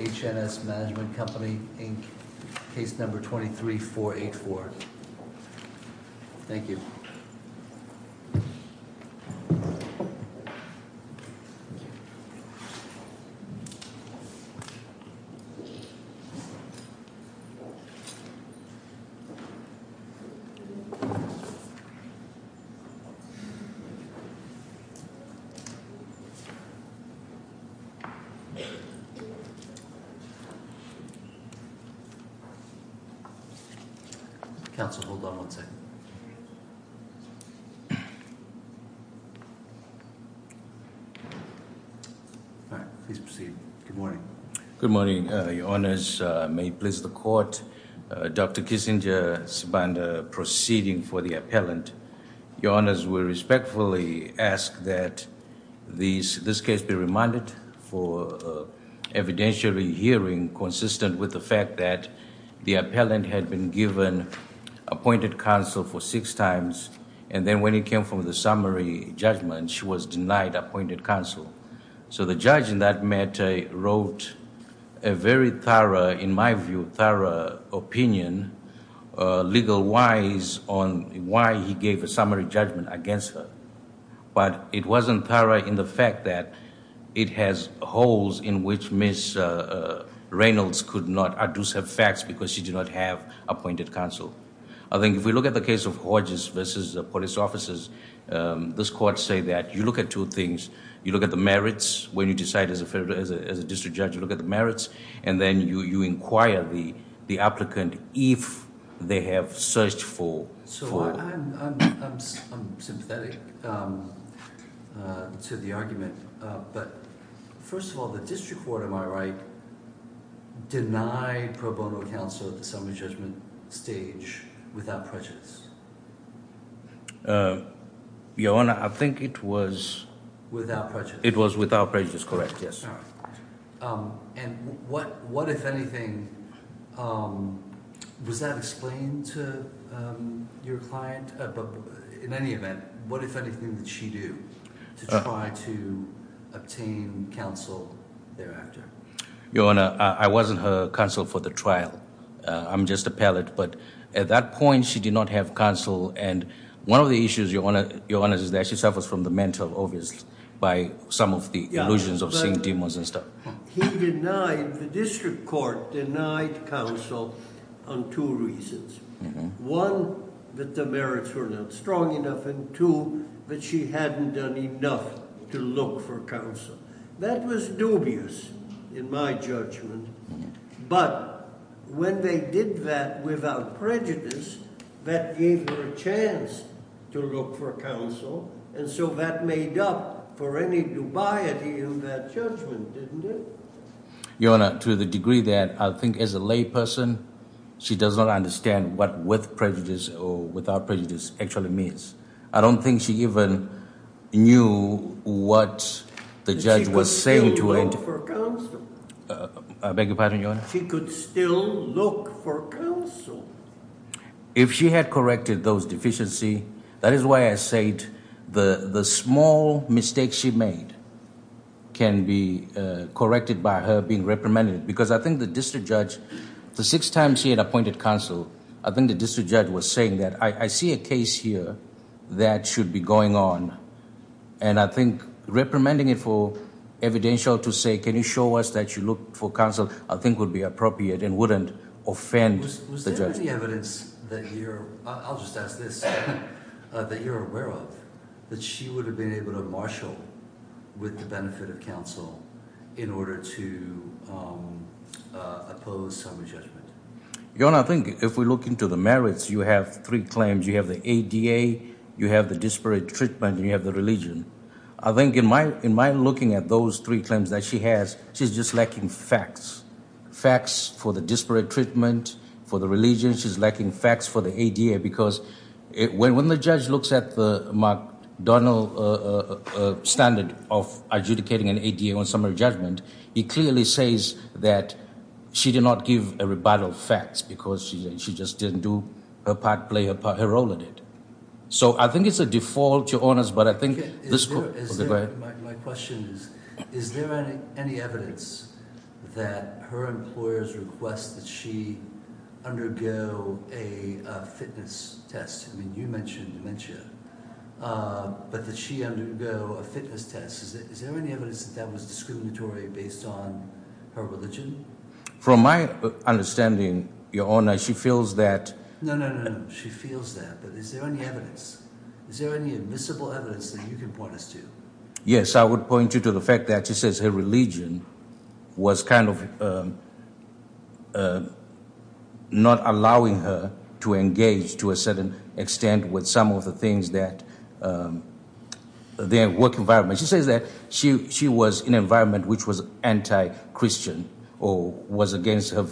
H&S Management Company Inc. Case number 23484. Thank you. Counsel, hold on one second. Please proceed. Good morning. Good morning, Your Honours. May it please the court, Dr. Kissinger, Subbandar, proceeding for the appellant, Your Honours, we respectfully ask that this case be remanded for evidentiary hearing consistent with the fact that the appellant had been given appointed counsel for six times, and then when it came from the summary judgment she was denied appointed counsel. So the judge in that matter wrote a very thorough, in my view, thorough opinion, legal-wise, on why he gave a summary judgment against her. But it wasn't thorough in the fact that it has holes in which Ms. Reynolds could not adduce her facts because she did not have appointed counsel. I think if we look at the case of Hodges v. Police Officers, this court say that you look at two things. You look at the merits when you decide as a district judge, you look at the merits, and then you inquire the applicant if they have searched for... So I'm sympathetic to the argument, but first of all, the district court, am I right, denied pro bono counsel at the summary judgment stage without prejudice? Your Honour, I think it was... Without prejudice. It was without prejudice. If anything, was that explained to your client? In any event, what, if anything, did she do to try to obtain counsel thereafter? Your Honour, I wasn't her counsel for the trial. I'm just a pallet, but at that point she did not have counsel, and one of the issues, Your Honour, is that she suffers from the mental obvious by some of the illusions of seeing demons and stuff. He denied... The district court denied counsel on two reasons. One, that the merits were not strong enough, and two, that she hadn't done enough to look for counsel. That was dubious in my judgment, but when they did that without prejudice, that gave her a chance to look for counsel, and so that made up for any dubiety in that judgment, didn't it? Your Honour, to the degree that I think as a layperson, she does not understand what with prejudice or without prejudice actually means. I don't think she even knew what the judge was saying to her. She could still look for counsel. I beg your pardon? If she had corrected those deficiencies, that is why I said the small mistakes she made can be corrected by her being reprimanded, because I think the district judge... The sixth time she had appointed counsel, I think the district judge was saying that, I see a case here that should be going on, and I think reprimanding it for evidential to say, can you show us that you looked for counsel, I think would be appropriate and wouldn't offend the judge. Was there any evidence that you're... I'll just ask this, that you're aware of, that she would have been able to marshal with the benefit of counsel in order to oppose summary judgment? Your Honour, I think if we look into the merits, you have three claims. You have the ADA, you have the disparate treatment, and you have the religion. I think in my looking at those three claims that she has, she's just lacking facts. Facts for the disparate treatment, for the religion, she's lacking facts for the ADA, because when the judge looks at the McDonnell standard of adjudicating an ADA on summary judgment, he clearly says that she did not give a rebuttal facts, because she just didn't do her part, play her part, her role in it. So I think it's a default, Your Honour, but I think... My question is, is there any evidence that her employers request that she undergo a fitness test? I mean, you mentioned dementia, but that she undergo a fitness test. Is there any evidence that that was discriminatory based on her religion? From my understanding, Your Honour, she feels that... No, no, no, she feels that, but is there any evidence? Is there any admissible evidence that you can point us to? Yes, I would point you to the fact that she says her religion was kind of not allowing her to engage to a certain extent with some of the things that... their work environment. She says that she was in an environment which was anti-Christian, or was against her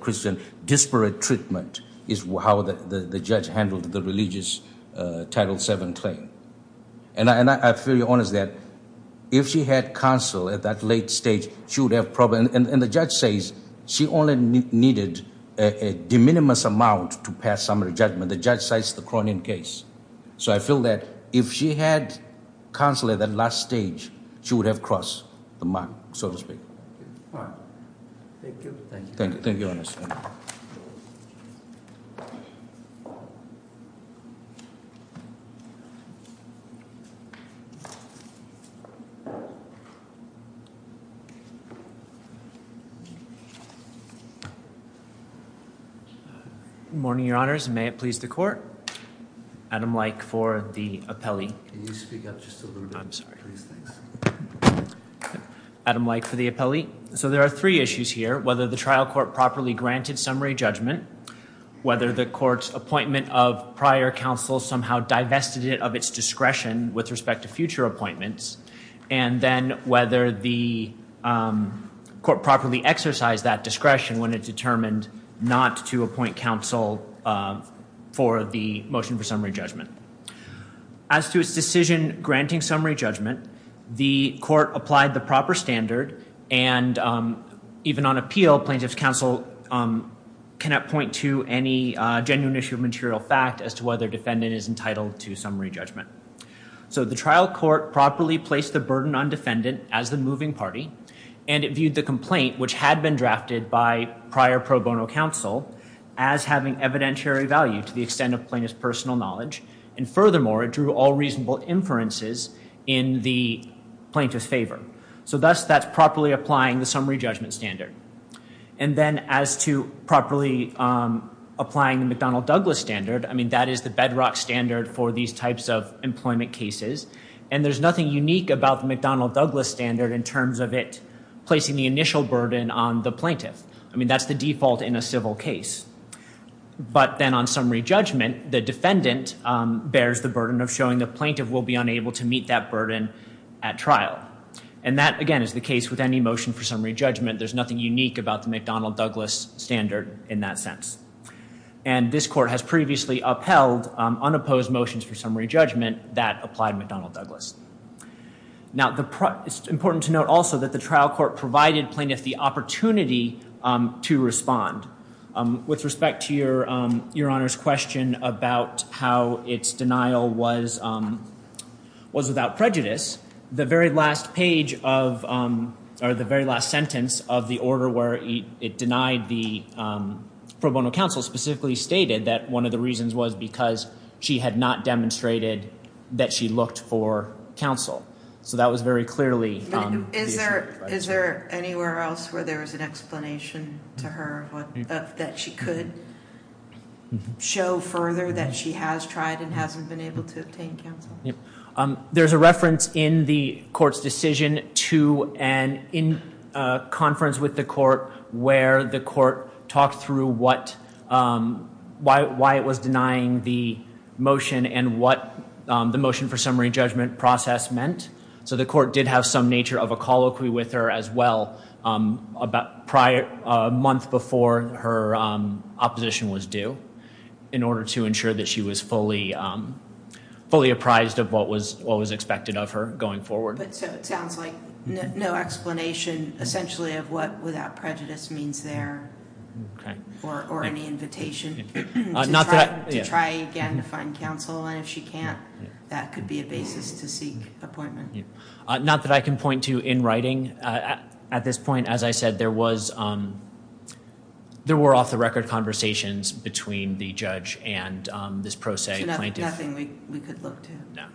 Christian disparate treatment, is how the judge handled the religious Title VII claim. And I feel, Your Honour, that if she had counsel at that late stage, she would have probably... And the judge says she only needed a de minimis amount to pass summary judgment. The judge cites the Cronin case. So I feel that if she had counsel at that last stage, she would have crossed the mark, so to speak. All right. Thank you. Thank you. Thank you. Thank you, Your Honours. Good morning, Your Honours. May it please the Court? Adam Leick for the appellee. Adam Leick for the appellee. So there are three issues here. Whether the trial court properly granted summary judgment, whether the court's appointment of prior counsel somehow divested it of its discretion with respect to future appointments, and then whether the court properly exercised that discretion when it determined not to appoint counsel for the trial court for summary judgment. As to its decision granting summary judgment, the court applied the proper standard, and even on appeal, plaintiff's counsel cannot point to any genuine issue of material fact as to whether defendant is entitled to summary judgment. So the trial court properly placed the burden on defendant as the moving party, and it viewed the complaint, which had been drafted by prior pro bono counsel, as having evidentiary value to the extent of plaintiff's personal knowledge, and furthermore, it drew all reasonable inferences in the plaintiff's favour. So thus, that's properly applying the summary judgment standard. And then as to properly applying the McDonnell-Douglas standard, I mean, that is the bedrock standard for these types of employment cases, and there's nothing unique about the McDonnell-Douglas standard in terms of it placing the initial burden on the plaintiff. I mean, that's the default in a civil case. But then on summary judgment, the defendant bears the burden of showing the plaintiff will be unable to meet that burden at trial. And that, again, is the case with any motion for summary judgment. There's nothing unique about the McDonnell-Douglas standard in that sense. And this court has previously upheld unopposed motions for summary judgment that applied McDonnell-Douglas. Now, it's important to note also that the trial court provided plaintiff the opportunity to respond. With respect to Your Honour's question about how its denial was without prejudice, the very last page of, or the very last sentence of the order where it denied the pro bono counsel specifically stated that one of the reasons was because she had not demonstrated that she looked for counsel. So that was very clearly the issue. Is there anywhere else where there was an explanation to her that she could show further that she has tried and hasn't been able to obtain counsel? There's a reference in the court's decision to a conference with the court where the court talked through why it was denying the motion and what the motion for summary judgment process meant. So the court did have some nature of a colloquy with her as well a month before her opposition was due in order to ensure that she was fully apprised of what was expected of her going forward. But so it sounds like no explanation essentially of what without prejudice means there or any invitation to try again to find counsel, and if she can't, that could be a basis to seek appointment. Not that I can point to in writing. At this point, as I said, there were off-the-record conversations between the judge and this pro se plaintiff. So nothing we could look to. No.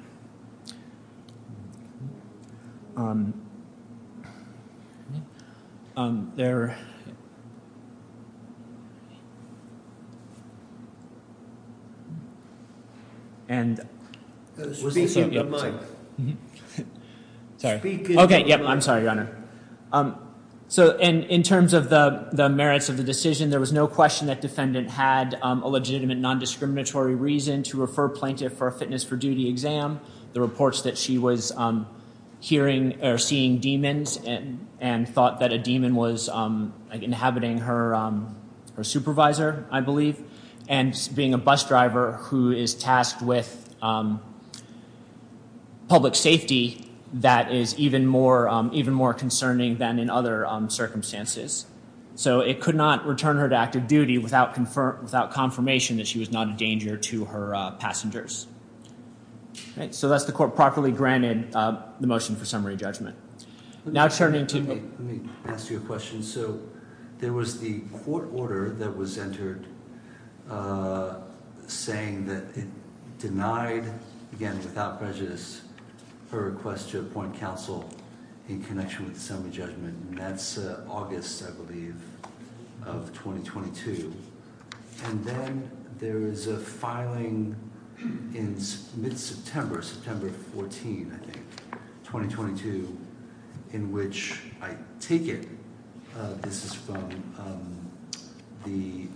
There. And. Speak into the mic. Sorry. Speak into the mic. I'm sorry, Your Honor. So in terms of the merits of the decision, there was no question that defendant had a legitimate nondiscriminatory reason to refer plaintiff for a fitness for duty exam. The reports that she was hearing or seeing demons and thought that a demon was inhabiting her supervisor, I believe, and being a bus driver who is tasked with public safety that is even more concerning than in other circumstances. So it could not return her to active duty without confirmation that she was not a danger to her passengers. So thus the court properly granted the motion for summary judgment. Now turning to. Let me ask you a question. So there was the court order that was entered saying that it denied, again, without prejudice, her request to appoint counsel in connection with the merits, I believe, of 2022. And then there is a filing in mid-September, September 14, I think, 2022, in which I take it this is from the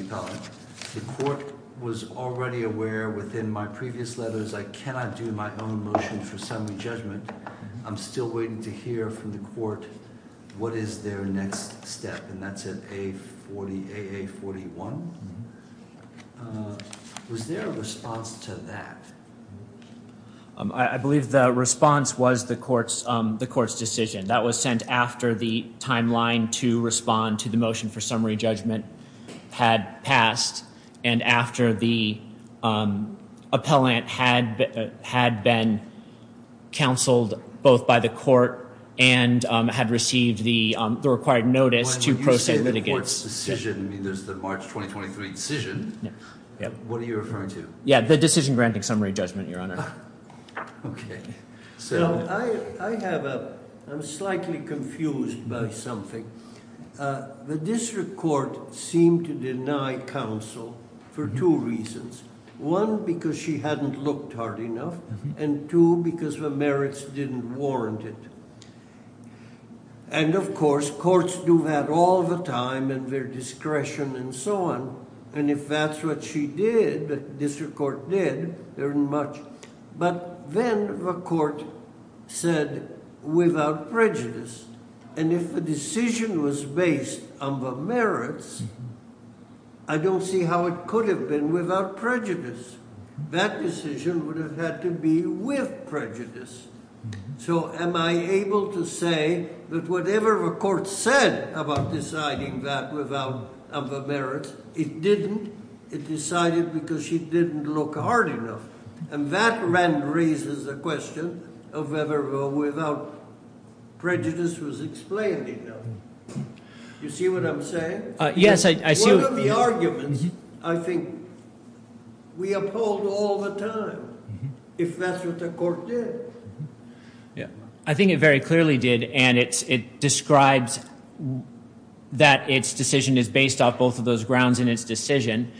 appellate. The court was already aware within my previous letters I cannot do my own motion for summary judgment. I'm still waiting to hear from the court what is their next step. And that's at AA41. Was there a response to that? I believe the response was the court's decision. That was sent after the timeline to respond to the motion for summary judgment had passed and after the appellant had been counseled both by the court and had received the required notice to pro se litigates. When you say the court's decision, I mean, there's the March 2023 decision. What are you referring to? Yeah, the decision granting summary judgment, Your Honor. Okay. So I have a, I'm slightly confused by something. The district court seemed to deny counsel for two reasons. One, because she hadn't looked hard enough. And two, because the merits didn't warrant it. And, of course, courts do that all the time and their discretion and so on. And if that's what she did, the district court did, very much. But then the court said without prejudice. And if the decision was based on the merits, I don't see how it could have been without prejudice. That decision would have had to be with prejudice. So am I able to say that whatever the court said about deciding that without the merits, it didn't? It decided because she didn't look hard enough. And that then raises the question of whether or without prejudice was explained enough. You see what I'm saying? Yes, I see what you're saying. One of the arguments, I think, we uphold all the time if that's what the court did. Yeah. I think it very clearly did, and it describes that its decision is based off both of those grounds in its decision.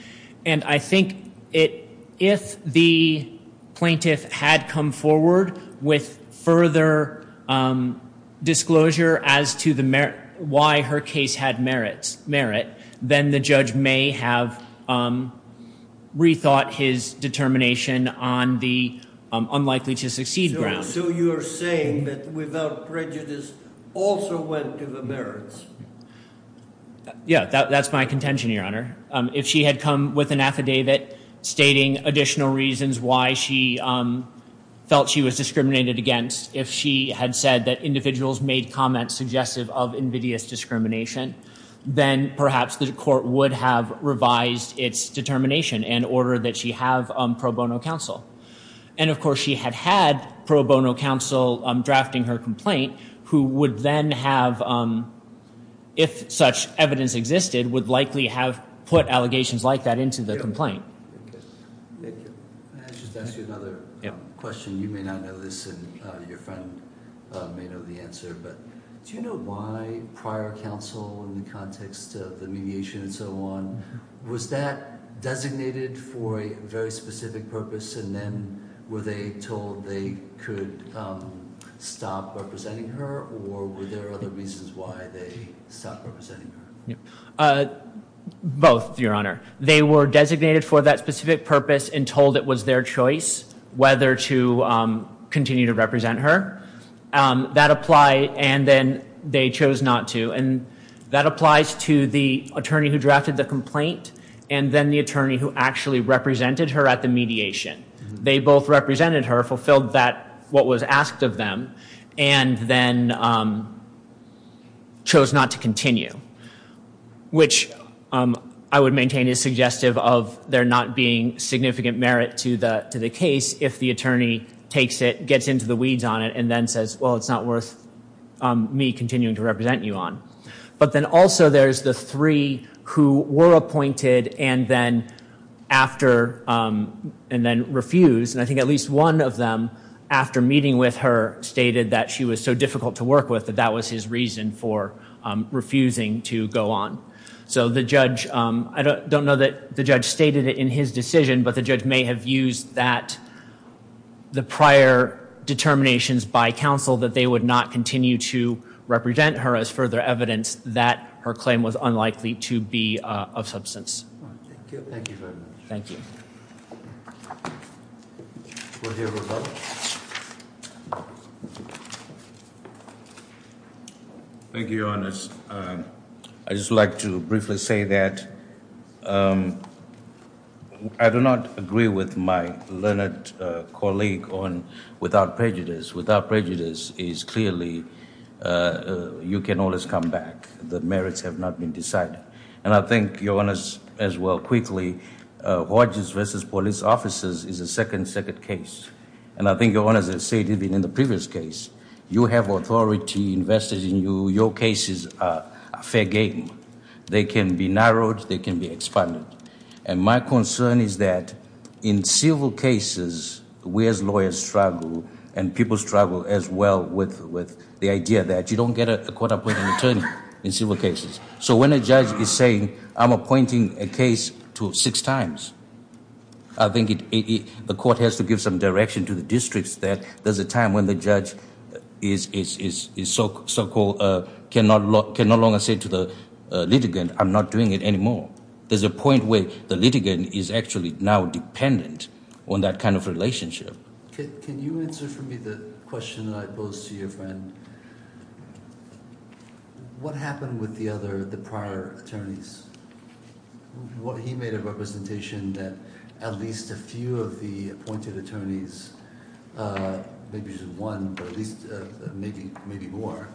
And I think if the plaintiff had come forward with further disclosure as to why her case had merit, then the judge may have rethought his determination on the unlikely to succeed ground. So you're saying that without prejudice also went to the merits? Yeah, that's my contention, Your Honor. If she had come with an affidavit stating additional reasons why she felt she was discriminated against, if she had said that individuals made comments suggestive of invidious discrimination, then perhaps the court would have revised its determination and ordered that she have pro bono counsel. And, of course, she had had pro bono counsel drafting her complaint, who would then have, if such evidence existed, would likely have put allegations like that into the complaint. Thank you. May I just ask you another question? You may not know this, and your friend may know the answer, but do you know why prior counsel in the context of the mediation and so on, was that designated for a very specific purpose, and then were they told they could stop representing her, or were there other reasons why they stopped representing her? Both, Your Honor. They were designated for that specific purpose and told it was their choice whether to continue to represent her. That applied, and then they chose not to. And that applies to the attorney who drafted the complaint, and then the attorney who actually represented her at the mediation. They both represented her, fulfilled what was asked of them, and then chose not to continue, which I would maintain is suggestive of there not being significant merit to the case if the attorney takes it, gets into the weeds on it, and then says, well, it's not worth me continuing to represent you on. But then also there's the three who were appointed and then refused, and I think at least one of them, after meeting with her, stated that she was so difficult to work with that that was his reason for refusing to go on. So the judge, I don't know that the judge stated it in his decision, but the judge may have used the prior determinations by counsel that they would not continue to represent her as further evidence that her claim was unlikely to be of substance. Thank you very much. Thank you. Thank you, Your Honor. Your Honor, I'd just like to briefly say that I do not agree with my learned colleague on without prejudice. Without prejudice is clearly you can always come back. The merits have not been decided. And I think, Your Honor, as well, quickly, voyages versus police officers is a second-second case. And I think, Your Honor, as I said even in the previous case, you have authority invested in you. Your cases are fair game. They can be narrowed. They can be expanded. And my concern is that in civil cases, we as lawyers struggle, and people struggle as well with the idea that you don't get a court-appointed attorney in civil cases. So when a judge is saying, I'm appointing a case six times, I think the court has to give some direction to the districts that there's a time when the judge can no longer say to the litigant, I'm not doing it anymore. There's a point where the litigant is actually now dependent on that kind of relationship. Can you answer for me the question that I posed to your friend? What happened with the prior attorneys? He made a representation that at least a few of the appointed attorneys, maybe just one, but at least maybe more,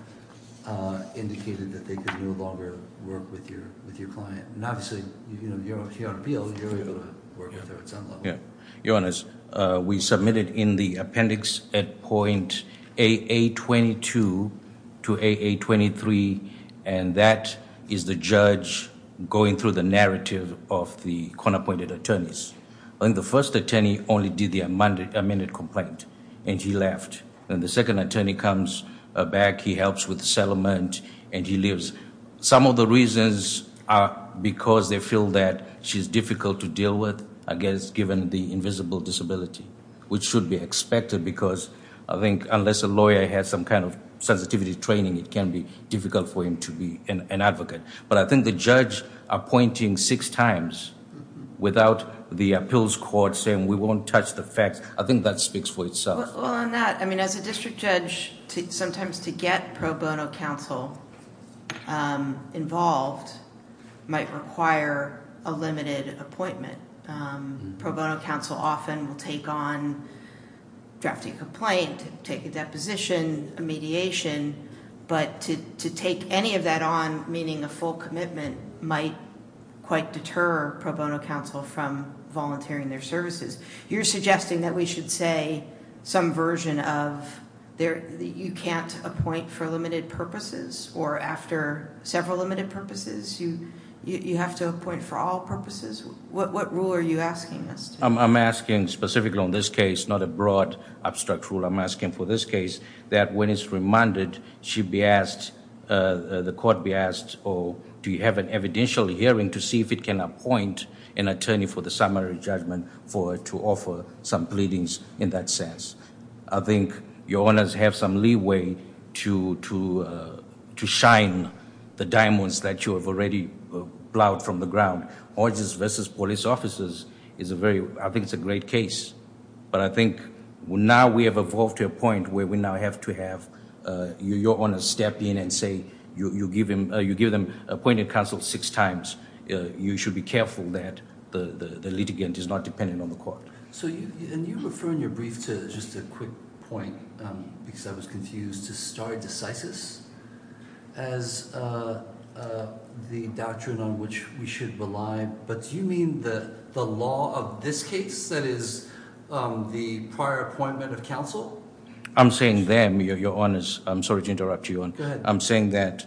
indicated that they could no longer work with your client. And obviously, you're on appeal. You're able to work with her at some level. Your Honor, we submitted in the appendix at point AA22 to AA23, and that is the judge going through the narrative of the court-appointed attorneys. And the first attorney only did the amended complaint, and he left. And the second attorney comes back. He helps with the settlement, and he leaves. Some of the reasons are because they feel that she's difficult to deal with, I guess given the invisible disability, which should be expected because I think unless a lawyer has some kind of sensitivity training, it can be difficult for him to be an advocate. But I think the judge appointing six times without the appeals court saying, we won't touch the facts, I think that speaks for itself. Well, on that, I mean as a district judge, sometimes to get pro bono counsel involved might require a limited appointment. Pro bono counsel often will take on drafting a complaint, take a deposition, a mediation, but to take any of that on, meaning a full commitment, might quite deter pro bono counsel from volunteering their services. You're suggesting that we should say some version of you can't appoint for limited purposes, or after several limited purposes, you have to appoint for all purposes? What rule are you asking us to... I'm asking specifically on this case, not a broad, abstract rule. I'm asking for this case that when it's remanded, the court be asked, do you have an evidential hearing to see if it can appoint an attorney for the summary judgment to offer some pleadings in that sense? I think your honors have some leeway to shine the diamonds that you have already plowed from the ground. Organs versus police officers, I think it's a great case. But I think now we have evolved to a point where we now have to have your honors step in and say you give them appointing counsel six times. You should be careful that the litigant is not dependent on the court. And you refer in your brief to just a quick point, because I was confused, to stare decisis as the doctrine on which we should rely. But do you mean the law of this case that is the prior appointment of counsel? I'm saying them, your honors. I'm sorry to interrupt you. I'm saying that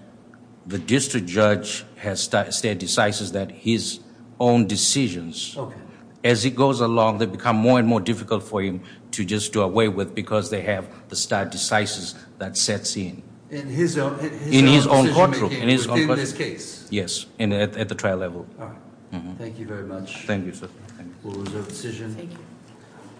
the district judge has stare decisis that his own decisions, as it goes along, they become more and more difficult for him to just do away with because they have the stare decisis that sets in. In his own decision making within this case? Yes, at the trial level. Thank you very much. Thank you, sir. Thank you.